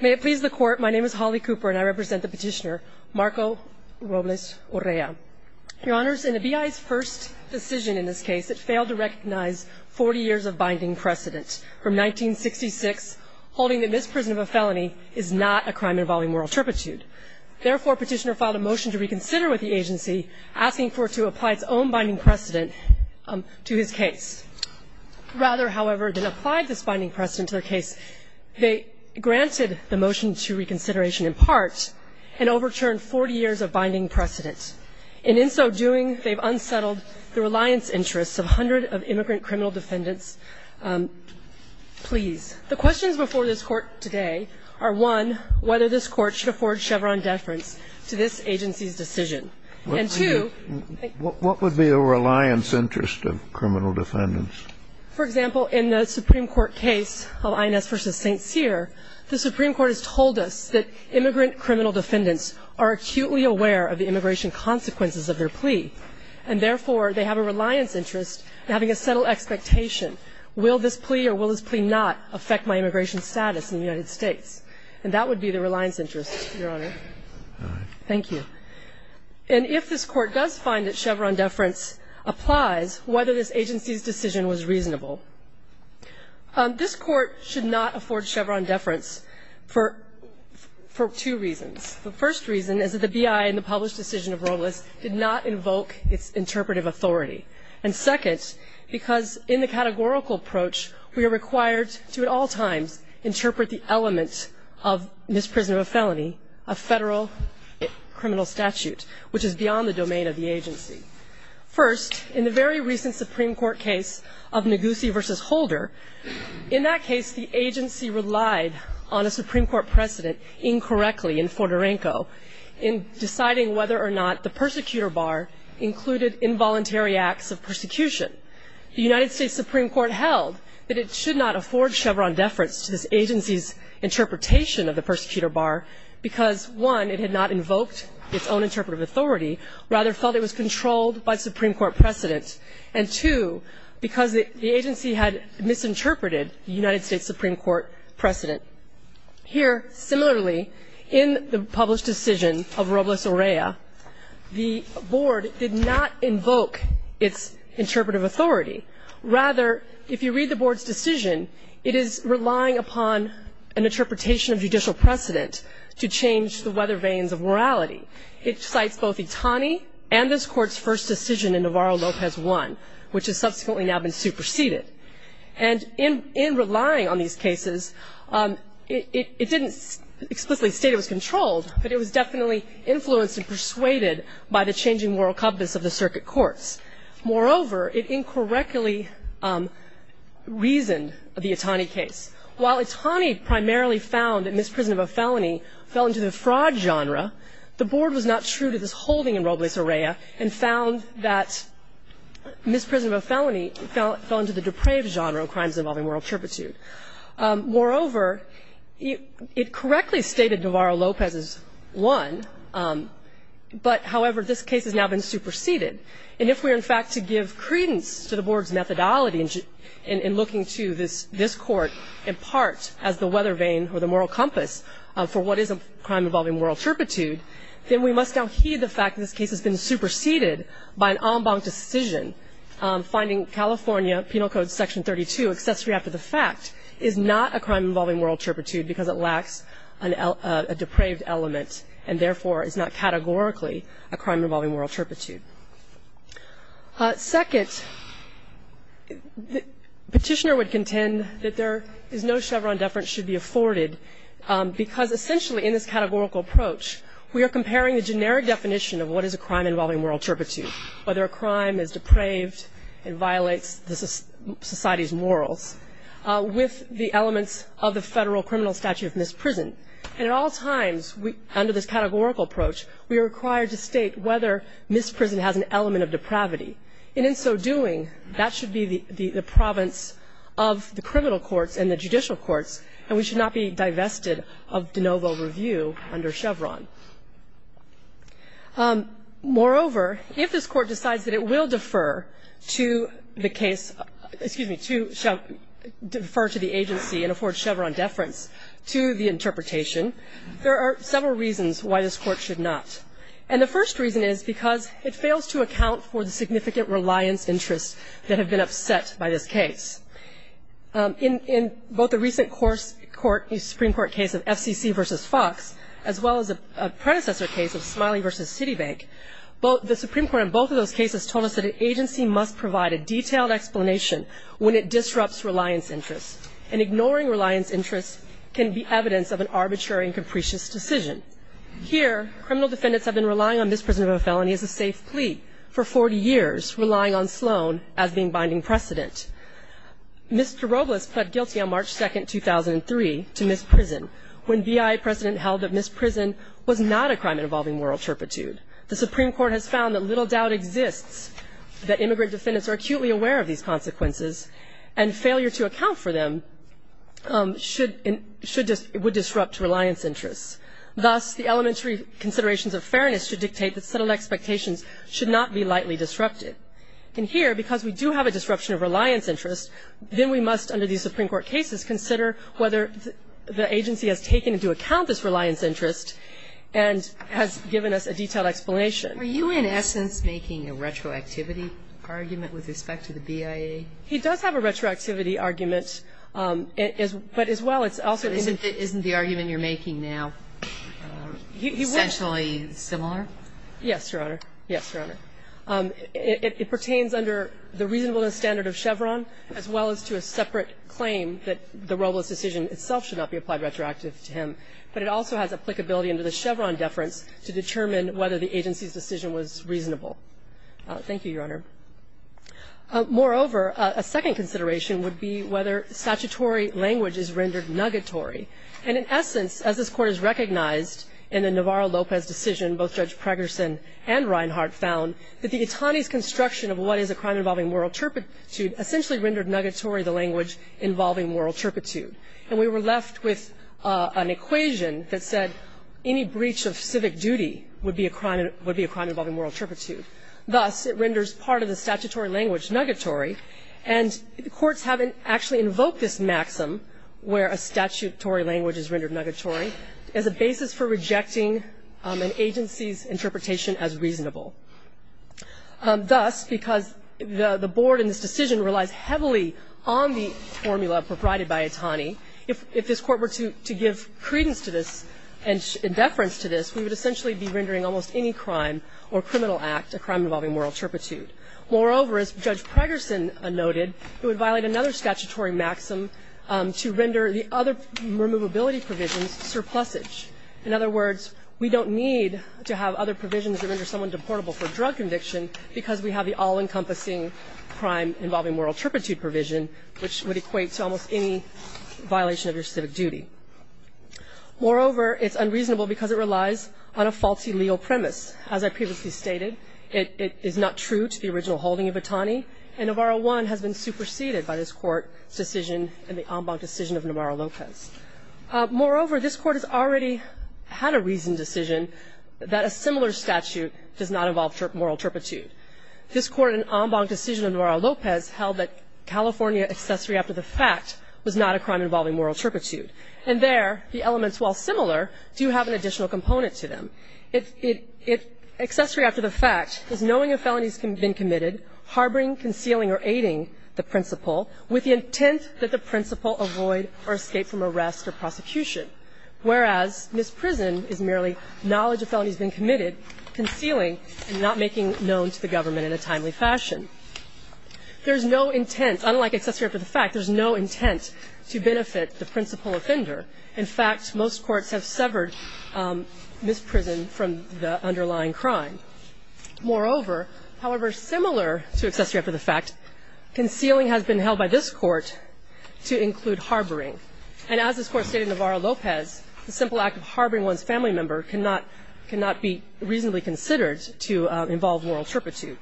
May it please the Court, my name is Holly Cooper and I represent the petitioner, Marco Robles-Urrea. Your Honors, in the B.I.'s first decision in this case, it failed to recognize 40 years of binding precedent, from 1966, holding that misprisonment of a felony is not a crime involving moral turpitude. Therefore, petitioner filed a motion to reconsider with the agency, asking for it to apply its own binding precedent to his case. Rather, however, than apply this binding precedent to their case, they granted the motion to reconsideration in part, and overturned 40 years of binding precedent. And in so doing, they've unsettled the reliance interests of hundreds of immigrant criminal defendants. Please. The questions before this Court today are, one, whether this Court should afford Chevron deference to this agency's decision. And two. What would be a reliance interest of criminal defendants? For example, in the Supreme Court case of INS v. St. Cyr, the Supreme Court has told us that immigrant criminal defendants are acutely aware of the immigration consequences of their plea. And therefore, they have a reliance interest in having a settled expectation. Will this plea or will this plea not affect my immigration status in the United States? And that would be the reliance interest, Your Honor. Thank you. And if this Court does find that Chevron deference applies, whether this agency's decision was reasonable. This Court should not afford Chevron deference for two reasons. The first reason is that the B.I. in the published decision of Robles did not invoke its interpretive authority. And second, because in the categorical approach, we are required to at all times interpret the element of misprision of a felony, a federal criminal statute, which is beyond the domain of the agency. First, in the very recent Supreme Court case of Negussie v. Holder, in that case the agency relied on a Supreme Court precedent incorrectly in Forterenco in deciding whether or not the persecutor bar included involuntary acts of persecution. The United States Supreme Court held that it should not afford Chevron deference to this agency's interpretation of the persecutor bar because, one, it had not invoked its own interpretive authority, rather felt it was controlled by the Supreme Court precedent, and two, because the agency had misinterpreted the United States Supreme Court precedent. Here, similarly, in the published decision of Robles-Orea, the Board did not invoke its interpretive authority. Rather, if you read the Board's decision, it is relying upon an interpretation of judicial precedent to change the weather veins of morality. It cites both Itani and this Court's first decision in Navarro-Lopez 1, which has subsequently now been superseded. And in relying on these cases, it didn't explicitly state it was controlled, but it was definitely influenced and persuaded by the changing moral compass of the circuit courts. Moreover, it incorrectly reasoned the Itani case. While Itani primarily found that misprision of a felony fell into the fraud genre, the Board was not true to this holding in Robles-Orea and found that misprision of a felony fell into the depraved genre of crimes involving moral turpitude. Moreover, it correctly stated Navarro-Lopez's 1, but, however, this case has now been superseded. And if we are, in fact, to give credence to the Board's methodology in looking to this Court in part as the weather vein or the moral compass for what is a crime involving moral turpitude, then we must now heed the fact that this case has been superseded by an en banc decision, finding California Penal Code Section 32, accessory after the fact, is not a crime involving moral turpitude because it lacks a depraved element and, therefore, is not categorically a crime involving moral turpitude. Second, the petitioner would contend that there is no Chevron deference should be afforded because, essentially, in this categorical approach, we are comparing the generic definition of what is a crime involving moral turpitude, whether a crime is depraved and violates society's morals, with the elements of the federal criminal statute of misprision. And at all times, under this categorical approach, we are required to state whether misprision has an element of depravity. And in so doing, that should be the province of the criminal courts and the judicial courts, and we should not be divested of de novo review under Chevron. Moreover, if this Court decides that it will defer to the case to the agency and afford Chevron deference to the interpretation, there are several reasons why this Court should not. And the first reason is because it fails to account for the significant reliance interests that have been upset by this case. In both the recent Supreme Court case of FCC v. Fox, as well as a predecessor case of Smiley v. Citibank, the Supreme Court in both of those cases told us that an agency must provide a detailed explanation when it disrupts reliance interests and ignoring reliance interests can be evidence of an arbitrary and capricious decision. Here, criminal defendants have been relying on misprision of a felony as a safe plea for 40 years, relying on Sloan as being binding precedent. Mr. Robles pled guilty on March 2, 2003, to misprison, when BIA precedent held that misprison was not a crime involving moral turpitude. The Supreme Court has found that little doubt exists that immigrant defendants are acutely aware of these consequences and failure to account for them should and would disrupt reliance interests. Thus, the elementary considerations of fairness should dictate that settled expectations should not be lightly disrupted. And here, because we do have a disruption of reliance interests, then we must, under these Supreme Court cases, consider whether the agency has taken into account this reliance interest and has given us a detailed explanation. Are you, in essence, making a retroactivity argument with respect to the BIA? He does have a retroactivity argument. But as well, it's also in the Isn't the argument you're making now essentially similar? Yes, Your Honor. Yes, Your Honor. It pertains under the reasonableness standard of Chevron, as well as to a separate claim that the Robles decision itself should not be applied retroactively to him. But it also has applicability under the Chevron deference to determine whether the agency's decision was reasonable. Thank you, Your Honor. Moreover, a second consideration would be whether statutory language is rendered nuggatory. And in essence, as this Court has recognized in the Navarro-Lopez decision, both Judge Pregerson and Reinhart found that the Itani's construction of what is a crime involving moral turpitude essentially rendered nuggatory the language involving moral turpitude. And we were left with an equation that said any breach of civic duty would be a crime involving moral turpitude. Thus, it renders part of the statutory language nuggatory. And the courts haven't actually invoked this maxim where a statutory language is rendered nuggatory as a basis for rejecting an agency's interpretation as reasonable. Thus, because the board in this decision relies heavily on the formula provided by Itani, if this Court were to give credence to this and deference to this, we would essentially be rendering almost any crime or criminal act a crime involving moral turpitude. Moreover, as Judge Pregerson noted, it would violate another statutory maxim to render the other removability provisions surplusage. In other words, we don't need to have other provisions to render someone deportable for a drug conviction because we have the all-encompassing crime involving moral turpitude provision, which would equate to almost any violation of your civic duty. Moreover, it's unreasonable because it relies on a faulty legal premise. As I previously stated, it is not true to the original holding of Itani, and Navarro 1 has been superseded by this Court's decision in the en banc decision of Navarro Lopez. Moreover, this Court has already had a reasoned decision that a similar statute does not involve moral turpitude. This Court in an en banc decision of Navarro Lopez held that California accessory after the fact was not a crime involving moral turpitude. And there, the elements, while similar, do have an additional component to them. Accessory after the fact is knowing a felony has been committed, harboring, concealing, or aiding the principal with the intent that the principal avoid or escape from arrest or prosecution, whereas misprison is merely knowledge a felony has been committed, concealing, and not making known to the government in a timely fashion. There's no intent, unlike accessory after the fact, there's no intent to benefit the principal offender. In fact, most courts have severed misprison from the underlying crime. Moreover, however, similar to accessory after the fact, concealing has been held by this Court to include harboring. And as this Court stated in Navarro Lopez, the simple act of harboring one's family member cannot be reasonably considered to involve moral turpitude.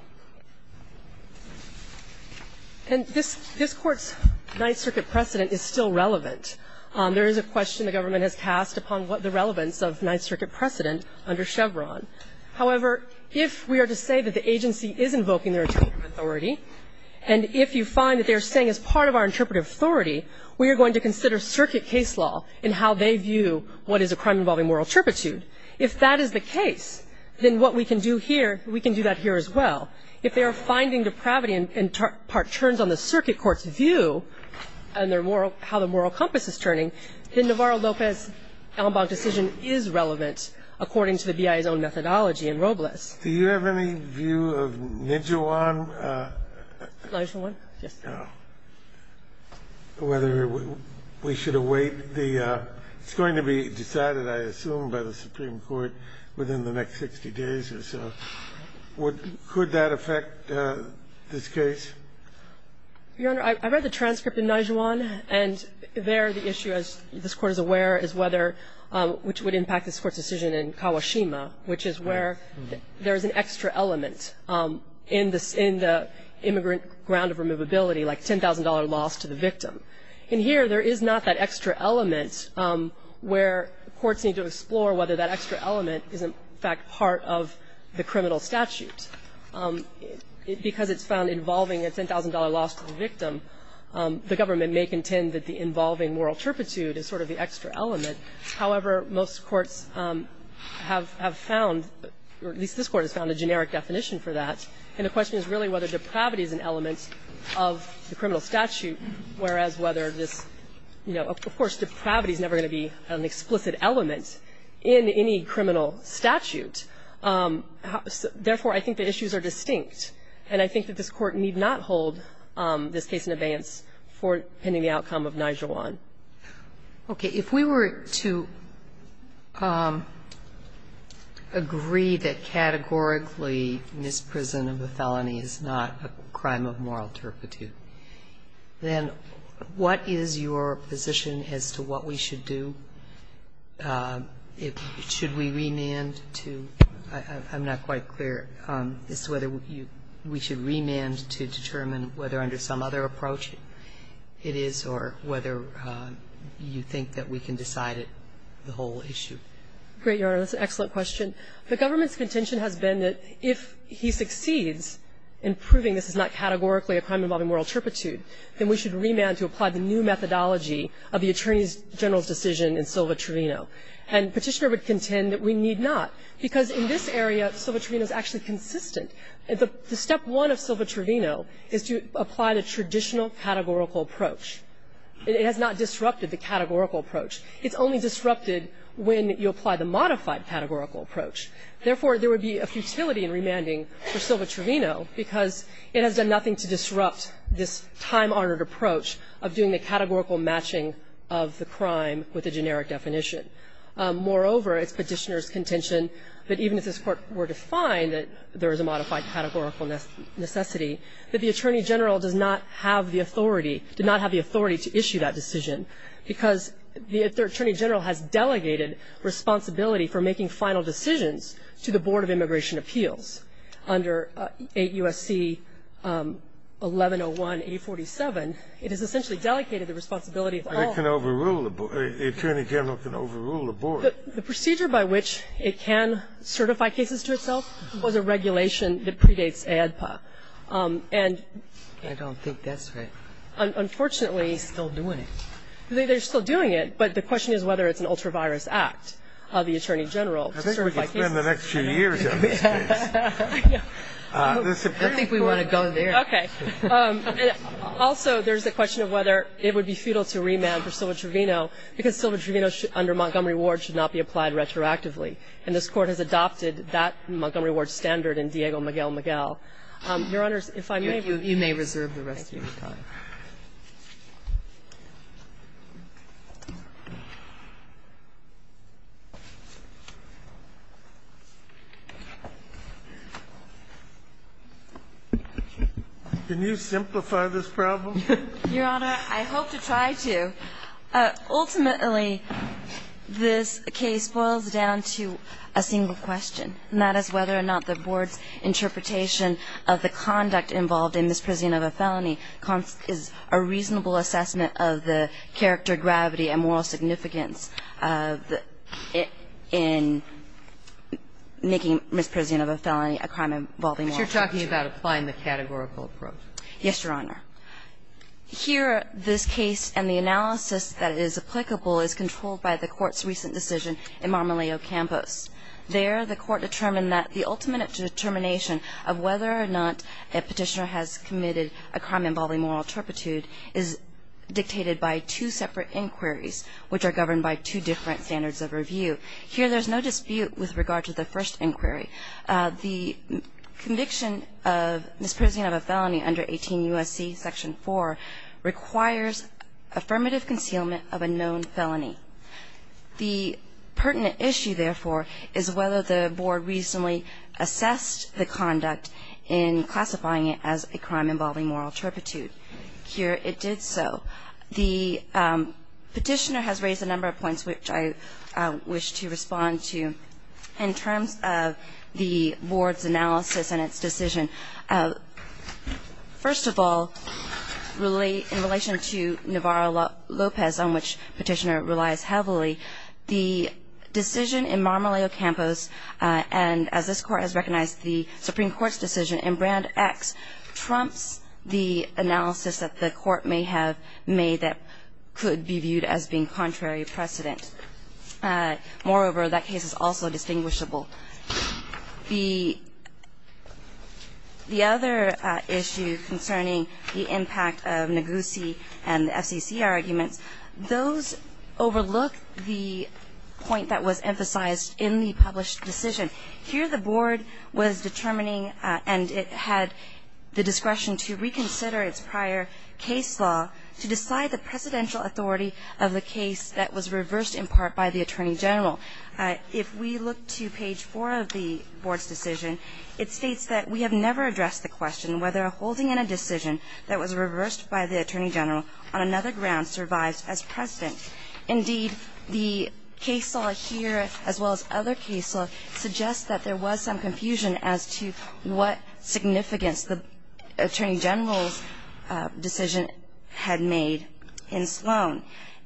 And this Court's Ninth Circuit precedent is still relevant. There is a question the government has cast upon what the relevance of Ninth Circuit precedent under Chevron. However, if we are to say that the agency is invoking their interpretive authority, and if you find that they are saying as part of our interpretive authority, we are going to consider circuit case law in how they view what is a crime involving moral turpitude, if that is the case, then what we can do here, we can do that here as well. If they are finding depravity and part turns on the circuit court's view and their moral – how the moral compass is turning, then Navarro Lopez's Ellenbach decision is relevant according to the BIA's own methodology in Robles. Do you have any view of Nijewan? Nijewan? Yes. I don't know whether we should await the – it's going to be decided, I assume, by the Supreme Court within the next 60 days or so. Could that affect this case? Your Honor, I read the transcript in Nijewan, and there the issue, as this Court is aware, is whether – which would impact this Court's decision in Kawashima, which is where there is an extra element in the immigrant ground of removability, like $10,000 loss to the victim. And here there is not that extra element where courts need to explore whether that extra element is, in fact, part of the criminal statute. Because it's found involving a $10,000 loss to the victim, the government may contend that the involving moral turpitude is sort of the extra element. However, most courts have found, or at least this Court has found, a generic definition for that, and the question is really whether depravity is an element of the criminal statute, whereas whether this – you know, of course, depravity is never going to be an explicit element in any criminal statute. Therefore, I think the issues are distinct, and I think that this Court need not hold this case in abeyance for pending the outcome of Nijewan. Okay. If we were to agree that categorically misprison of a felony is not a crime of moral turpitude, then what is your position as to what we should do? Should we remand to – I'm not quite clear as to whether we should remand to determine whether under some other approach it is or whether you think that we can decide the whole issue. Great, Your Honor. That's an excellent question. The government's contention has been that if he succeeds in proving this is not categorically a crime involving moral turpitude, then we should remand to apply the new methodology of the Attorney General's decision in Silva-Trevino. And Petitioner would contend that we need not, because in this area, Silva-Trevino is actually consistent. The step one of Silva-Trevino is to apply the traditional categorical approach. It has not disrupted the categorical approach. It's only disrupted when you apply the modified categorical approach. Therefore, there would be a futility in remanding for Silva-Trevino because it has done nothing to disrupt this time-honored approach of doing the categorical matching of the crime with the generic definition. Moreover, it's Petitioner's contention that even if this Court were to find that there is a modified categorical necessity, that the Attorney General does not have the authority to issue that decision because the Attorney General has delegated responsibility for making final decisions to the Board of Immigration Appeals. Under 8 U.S.C. 1101-847, it has essentially delegated the responsibility of all of them. But it can overrule the Board. The Attorney General can overrule the Board. The procedure by which it can certify cases to itself was a regulation that predates AEDPA. And unfortunately, they're still doing it. But the question is whether it's an ultra-virus act of the Attorney General to certify cases. I think we can spend the next two years on this case. I think we want to go there. Okay. Also, there's the question of whether it would be futile to remand for Silva-Trevino because Silva-Trevino under Montgomery Ward should not be applied retroactively. And this Court has adopted that Montgomery Ward standard in Diego Miguel Miguel. Your Honor, if I may. You may reserve the rest of your time. Thank you. Can you simplify this problem? Your Honor, I hope to try to. Ultimately, this case boils down to a single question, and that is whether or not the Board's interpretation of the conduct involved in misprision of a felony is a reasonable assessment of the character, gravity, and moral significance in making misprision of a felony a crime involving moral virtue. But you're talking about applying the categorical approach. Yes, Your Honor. Here, this case and the analysis that is applicable is controlled by the Court's recent decision in Marmoleo Campos. There, the Court determined that the ultimate determination of whether or not a petitioner has committed a crime involving moral turpitude is dictated by two separate inquiries, which are governed by two different standards of review. Here, there's no dispute with regard to the first inquiry. The conviction of misprision of a felony under 18 U.S.C. Section 4 requires affirmative concealment of a known felony. The pertinent issue, therefore, is whether the Board reasonably assessed the conduct in classifying it as a crime involving moral turpitude. Here, it did so. The petitioner has raised a number of points which I wish to respond to. In terms of the Board's analysis and its decision, first of all, in relation to Navarro-Lopez, on which petitioner relies heavily, the decision in Marmoleo Campos and, as this Court has recognized, the Supreme Court's decision in Brand X trumps the analysis that the Court may have made that could be viewed as being contrary precedent. Moreover, that case is also distinguishable. The other issue concerning the impact of Negussi and the FCC arguments, those overlook the point that was emphasized in the published decision. Here, the Board was determining and it had the discretion to reconsider its prior case law to decide the presidential authority of the case that was reversed in part by the Attorney General. If we look to page 4 of the Board's decision, it states that we have never addressed the question whether holding in a decision that was reversed by the Attorney General on another ground survives as President. Indeed, the case law here, as well as other case law, suggests that there was some had made in Sloan.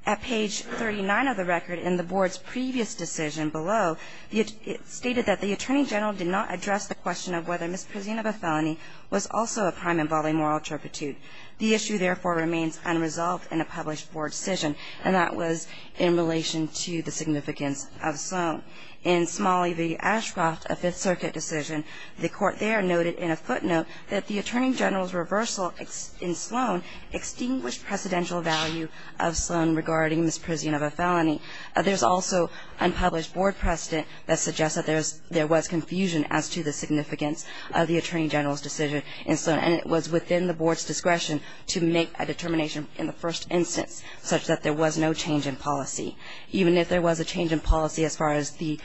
At page 39 of the record, in the Board's previous decision below, it stated that the Attorney General did not address the question of whether misprision of a felony was also a crime involving moral turpitude. The issue, therefore, remains unresolved in a published Board decision, and that was in relation to the significance of Sloan. In Smalley v. Ashcroft, a Fifth Circuit decision, the Court there noted in a footnote that the Attorney General's reversal in Sloan extinguished presidential value of Sloan regarding misprision of a felony. There's also an unpublished Board precedent that suggests that there was confusion as to the significance of the Attorney General's decision in Sloan. And it was within the Board's discretion to make a determination in the first instance such that there was no change in policy. Even if there was a change in policy as far as the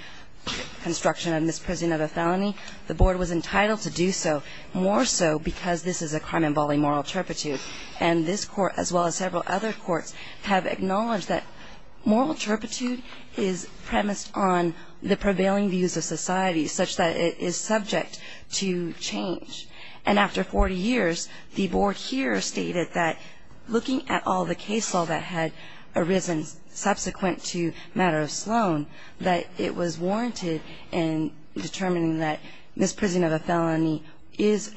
construction of misprision of a felony, the Board was entitled to do so more so because this is a crime involving moral turpitude. And this Court, as well as several other courts, have acknowledged that moral turpitude is premised on the prevailing views of society such that it is subject to change. And after 40 years, the Board here stated that looking at all the case law that had arisen subsequent to matter of Sloan, that it was warranted in determining that misprision of a felony is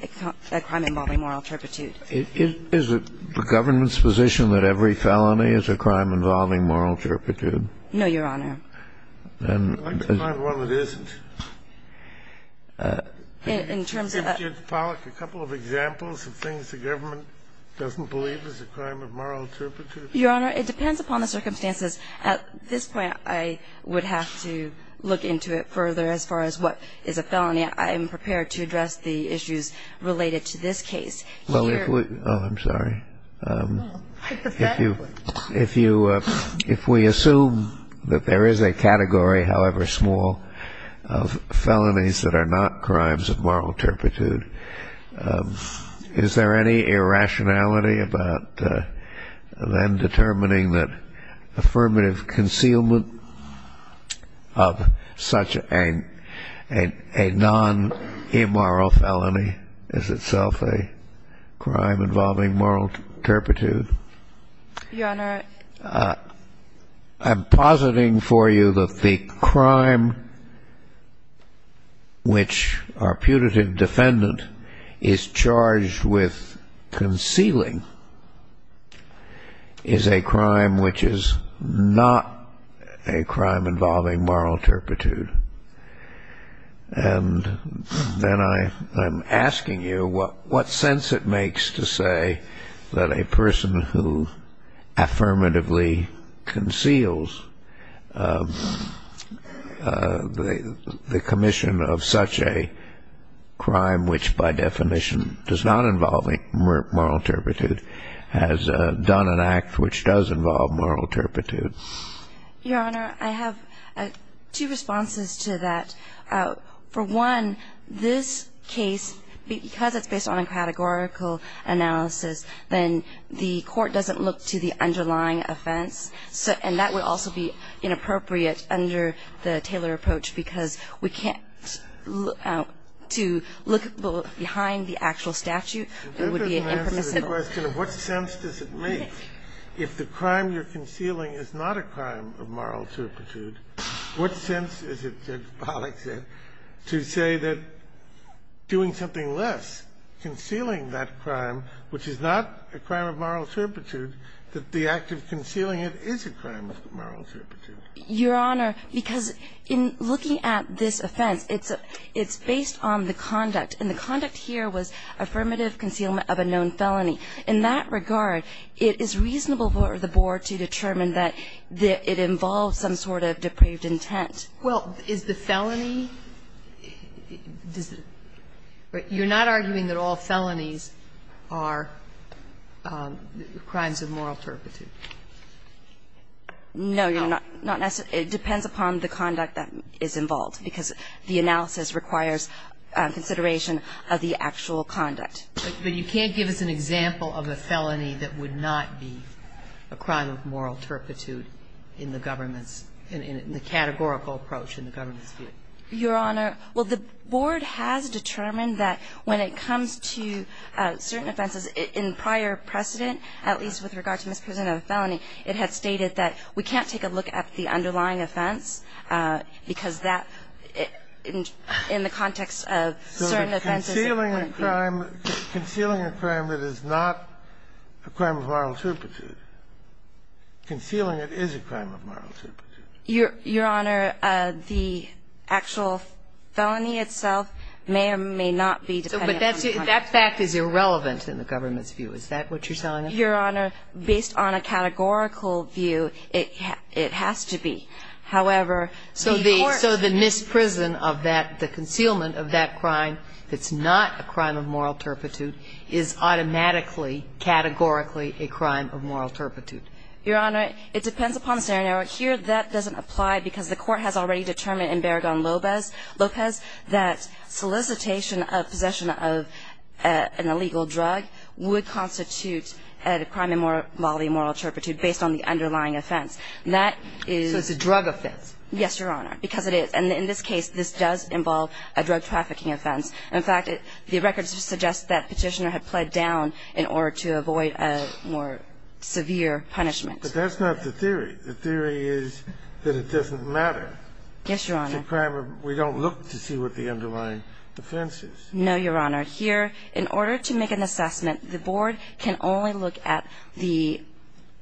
a crime involving moral turpitude. Is it the government's position that every felony is a crime involving moral turpitude? No, Your Honor. I'd like to find one that isn't. In terms of the ---- Can you give Judge Pollack a couple of examples of things the government doesn't believe is a crime of moral turpitude? Your Honor, it depends upon the circumstances. At this point, I would have to look into it further as far as what is a felony. I am prepared to address the issues related to this case. Well, if we ---- Oh, I'm sorry. If you ---- If we assume that there is a category, however small, of felonies that are not crimes of moral turpitude, is there any irrationality about then determining that affirmative concealment of such a non-immoral felony is itself a crime involving moral turpitude? Your Honor ---- I'm positing for you that the crime which our putative defendant is charged with concealing is a crime which is not a crime involving moral turpitude. And then I'm asking you what sense it makes to say that a person who affirmatively conceals the commission of such a crime, which by definition does not involve moral turpitude, has done an act which does involve moral turpitude. Your Honor, I have two responses to that. For one, this case, because it's based on a categorical analysis, then the court doesn't look to the underlying offense. And that would also be inappropriate under the Taylor approach because we can't look to look behind the actual statute. It would be an imprecise ---- I'm asking you a question of what sense does it make if the crime you're concealing is not a crime of moral turpitude, what sense is it, Judge Pollack said, to say that doing something less, concealing that crime, which is not a crime of moral turpitude, that the act of concealing it is a crime of moral turpitude? Your Honor, because in looking at this offense, it's based on the conduct. And the conduct here was affirmative concealment of a known felony. In that regard, it is reasonable for the board to determine that it involves some sort of depraved intent. Well, is the felony ---- you're not arguing that all felonies are crimes of moral turpitude? No, Your Honor. Not necessarily. It depends upon the conduct that is involved because the analysis requires consideration of the actual conduct. But you can't give us an example of a felony that would not be a crime of moral turpitude in the government's ---- in the categorical approach in the government's view? Your Honor, well, the board has determined that when it comes to certain offenses in prior precedent, at least with regard to misprision of a felony, it had stated that we can't take a look at the underlying offense because that, in the context of certain offenses, it wouldn't be. So concealing a crime that is not a crime of moral turpitude, concealing it is a crime of moral turpitude. Your Honor, the actual felony itself may or may not be depending upon the context. But that fact is irrelevant in the government's view. Is that what you're saying? Your Honor, based on a categorical view, it has to be. However, the court ---- So the misprison of that, the concealment of that crime that's not a crime of moral turpitude is automatically, categorically a crime of moral turpitude? Your Honor, it depends upon the scenario. Here that doesn't apply because the court has already determined in Barragán-López that solicitation of possession of an illegal drug would constitute a crime involving moral turpitude based on the underlying offense. That is ---- So it's a drug offense. Yes, Your Honor, because it is. And in this case, this does involve a drug trafficking offense. In fact, the records suggest that Petitioner had pled down in order to avoid a more severe punishment. But that's not the theory. The theory is that it doesn't matter. Yes, Your Honor. It's a crime of we don't look to see what the underlying offense is. No, Your Honor. Here, in order to make an assessment, the board can only look at the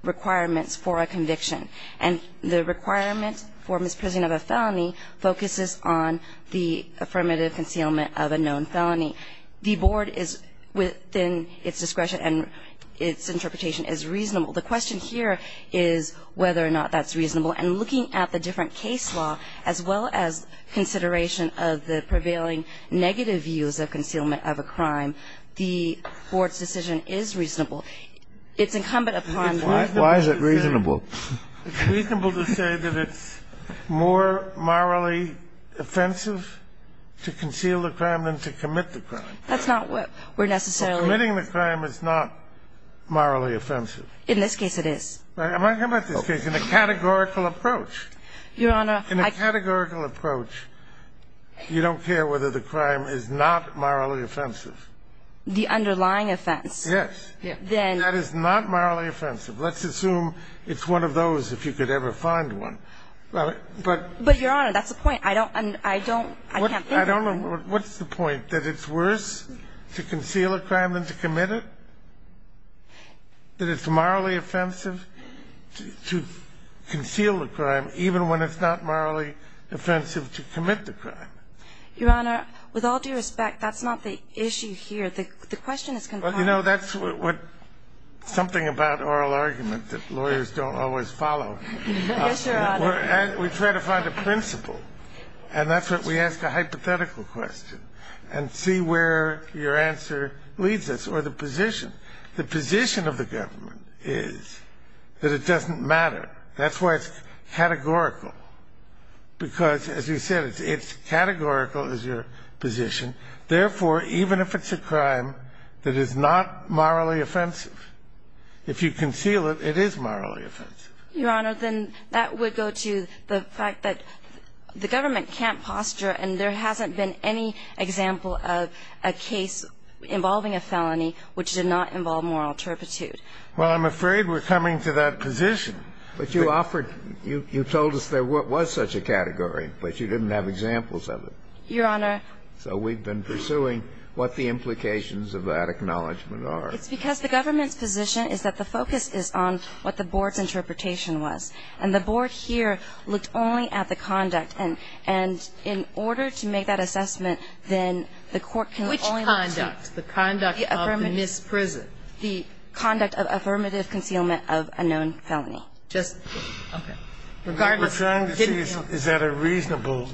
requirements for a conviction. And the requirement for misprisoning of a felony focuses on the affirmative concealment of a known felony. The board is within its discretion and its interpretation is reasonable. The question here is whether or not that's reasonable. And looking at the different case law, as well as consideration of the prevailing negative views of concealment of a crime, the board's decision is reasonable. It's incumbent upon the board. Why is it reasonable? It's reasonable to say that it's more morally offensive to conceal a crime than to commit the crime. That's not what we're necessarily ---- So committing the crime is not morally offensive. In this case, it is. I'm talking about this case in a categorical approach. Your Honor, I ---- In a categorical approach, you don't care whether the crime is not morally offensive. The underlying offense. Yes. Then ---- That is not morally offensive. Let's assume it's one of those, if you could ever find one. But ---- But, Your Honor, that's the point. I don't ---- I don't know. What's the point? That it's worse to conceal a crime than to commit it? That it's morally offensive to conceal a crime even when it's not morally offensive to commit the crime? Your Honor, with all due respect, that's not the issue here. The question is going to be ---- Well, you know, that's what ---- something about oral argument that lawyers don't always follow. Yes, Your Honor. We try to find a principle, and that's what we ask a hypothetical question, and see where your answer leads us or the position. The position of the government is that it doesn't matter. That's why it's categorical. Because, as you said, it's categorical is your position. Therefore, even if it's a crime that is not morally offensive, if you conceal it, it is morally offensive. Your Honor, then that would go to the fact that the government can't posture and there hasn't been any example of a case involving a felony which did not involve moral turpitude. Well, I'm afraid we're coming to that position. But you offered ---- you told us there was such a category, but you didn't have examples of it. Your Honor. So we've been pursuing what the implications of that acknowledgment are. It's because the government's position is that the focus is on what the board's interpretation was. And the board here looked only at the conduct. And in order to make that assessment, then the court can only look to ---- Which conduct? The conduct of the misprison? The conduct of affirmative concealment of a known felony. Just ---- okay. Regardless of ---- We're trying to see is that a reasonable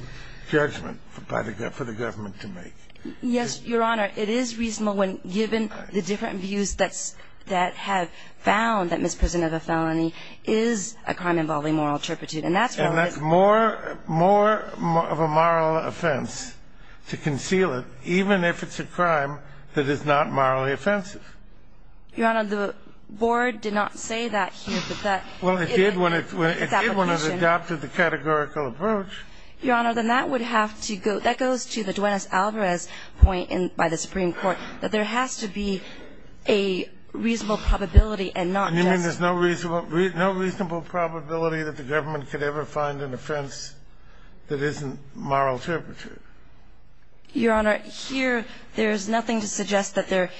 judgment for the government to make. Yes, Your Honor. It is reasonable when, given the different views that have found that misprison of a felony is a crime involving moral turpitude. And that's why it's ---- And that's more of a moral offense to conceal it, even if it's a crime that is not morally offensive. Your Honor, the board did not say that here, but that ---- Well, it did when it adopted the categorical approach. Your Honor, then that would have to go ---- that goes to the Duenas-Alvarez point by the Supreme Court, that there has to be a reasonable probability and not just ---- And you mean there's no reasonable probability that the government could ever find an offense that isn't moral turpitude? Your Honor, here there's nothing to suggest that there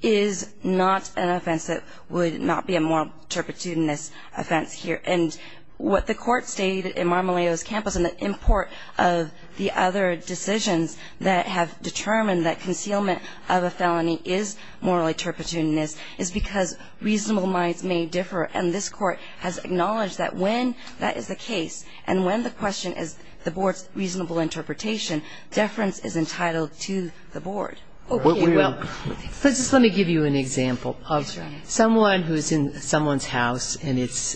is not an offense that would not be a moral turpitudinous offense here. And what the Court stated in Marmoleo's campus and the import of the other decisions that have determined that concealment of a felony is morally turpitudinous is because reasonable minds may differ. And this Court has acknowledged that when that is the case and when the question is the board's reasonable interpretation, deference is entitled to the board. Well, let me give you an example of someone who is in someone's house and it's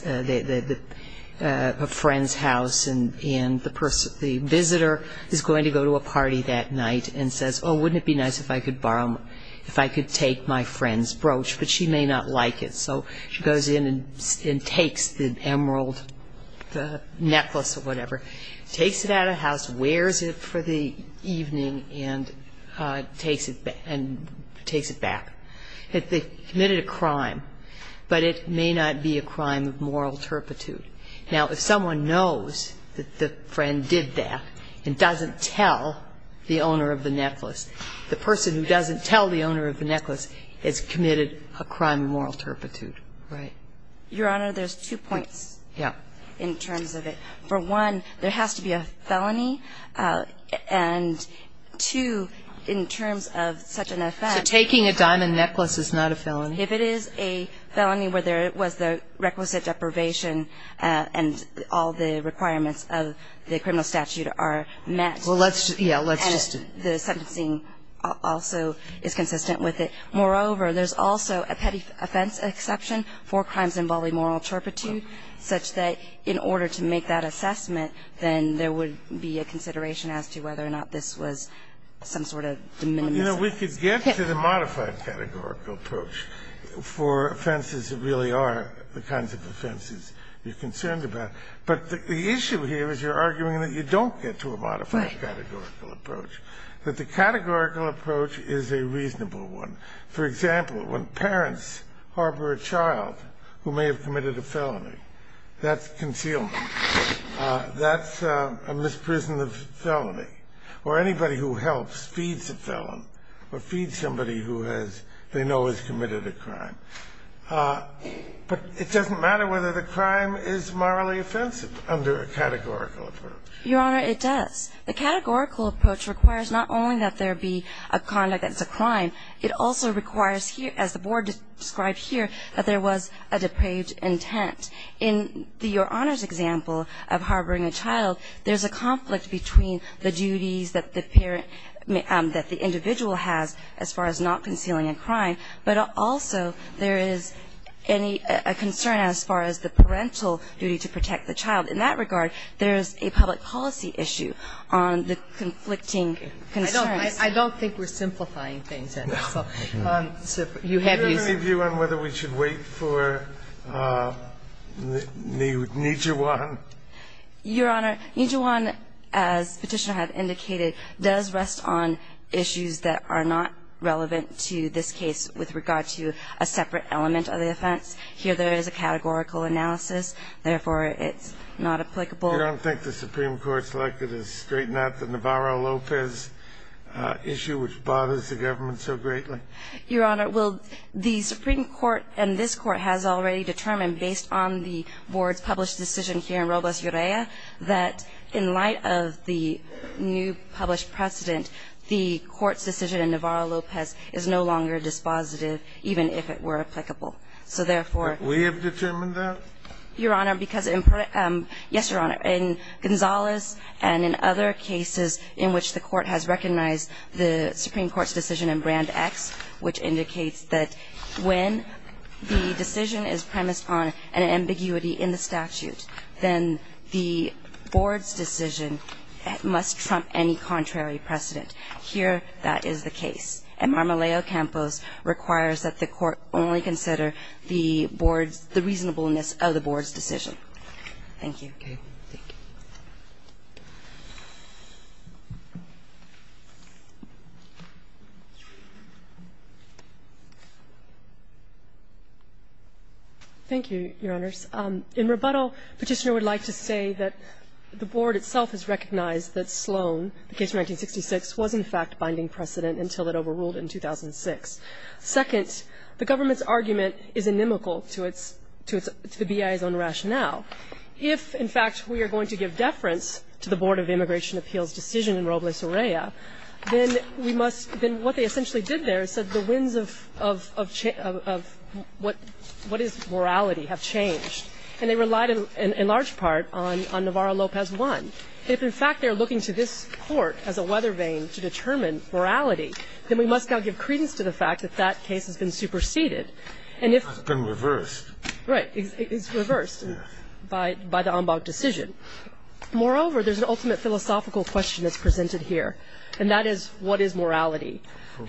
a friend's house and the visitor is going to go to a party that night and says, oh, wouldn't it be nice if I could borrow my ---- if I could take my friend's brooch, but she may not like it. So she goes in and takes the emerald necklace or whatever, takes it out of the house, wears it for the evening and takes it back. They committed a crime, but it may not be a crime of moral turpitude. Now, if someone knows that the friend did that and doesn't tell the owner of the necklace, it's committed a crime of moral turpitude. Right. Your Honor, there's two points in terms of it. For one, there has to be a felony. And two, in terms of such an offense ---- So taking a diamond necklace is not a felony? If it is a felony where there was the requisite deprivation and all the requirements of the criminal statute are met ---- Well, let's just ---- The sentencing also is consistent with it. Moreover, there's also a petty offense exception for crimes involving moral turpitude such that in order to make that assessment, then there would be a consideration as to whether or not this was some sort of de minimis. You know, we could get to the modified categorical approach for offenses that really are the kinds of offenses you're concerned about. But the issue here is you're arguing that you don't get to a modified categorical approach. That the categorical approach is a reasonable one. For example, when parents harbor a child who may have committed a felony, that's concealment. That's a misprision of felony. Or anybody who helps feeds a felon or feeds somebody who has they know has committed a crime. But it doesn't matter whether the crime is morally offensive under a categorical approach. Your Honor, it does. The categorical approach requires not only that there be a conduct that's a crime, it also requires here, as the Board described here, that there was a depraved intent. In your Honor's example of harboring a child, there's a conflict between the duties that the parent, that the individual has as far as not concealing a crime, but also there is a concern as far as the parental duty to protect the child. In that regard, there's a public policy issue on the conflicting concerns. I don't think we're simplifying things. Do you have any view on whether we should wait for Nijiwan? Your Honor, Nijiwan, as Petitioner has indicated, does rest on issues that are not relevant to this case with regard to a separate element of the offense. Here, there is a categorical analysis. Therefore, it's not applicable. You don't think the Supreme Court selected to straighten out the Navarro-Lopez issue, which bothers the government so greatly? Your Honor, well, the Supreme Court and this Court has already determined, based on the Board's published decision here in Robles-Urrea, that in light of the new published precedent, the Court's decision in Navarro-Lopez is no longer dispositive, even if it were applicable. So, therefore — But we have determined that? Your Honor, because in — yes, Your Honor. In Gonzales and in other cases in which the Court has recognized the Supreme Court's decision in Brand X, which indicates that when the decision is premised on an ambiguity in the statute, then the Board's decision must trump any contrary precedent. Here, that is the case. And Marmoleo-Campos requires that the Court only consider the Board's — the reasonableness of the Board's decision. Thank you. Thank you. Thank you, Your Honors. In rebuttal, Petitioner would like to say that the Board itself has recognized that Sloan, the case from 1966, was in fact binding precedent until it overruled in 2006. Second, the government's argument is inimical to its — to the BIA's own rationale. If, in fact, we are going to give deference to the Board of Immigration Appeals' decision in Robles-Urrea, then we must — then what they essentially did there is said the winds of what is morality have changed. And they relied, in large part, on Navarro-Lopez I. If, in fact, they are looking to this Court as a weather vane to determine morality, then we must now give credence to the fact that that case has been superseded. And if — It's been reversed. Right. It's reversed by the Ambaug decision. Moreover, there's an ultimate philosophical question that's presented here, and that is, what is morality?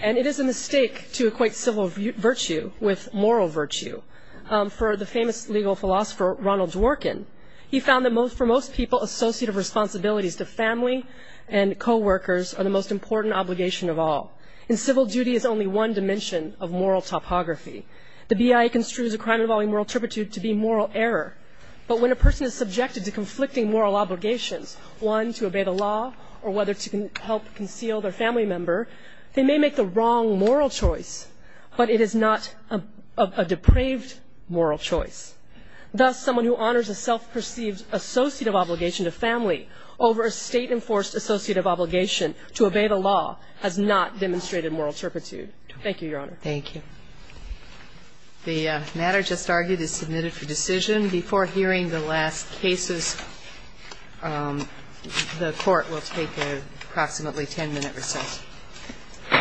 And it is a mistake to equate civil virtue with moral virtue. For the famous legal philosopher Ronald Dworkin, he found that for most people, associative responsibilities to family and coworkers are the most important obligation of all. And civil duty is only one dimension of moral topography. The BIA construes a crime involving moral turpitude to be moral error. But when a person is subjected to conflicting moral obligations, one, to obey the law, or whether to help conceal their family member, they may make the wrong moral choice. But it is not a depraved moral choice. Thus, someone who honors a self-perceived associative obligation to family over a State-enforced associative obligation to obey the law has not demonstrated moral turpitude. Thank you, Your Honor. Thank you. The matter just argued is submitted for decision. Before hearing the last cases, the Court will take an approximately 10-minute recess. All rise.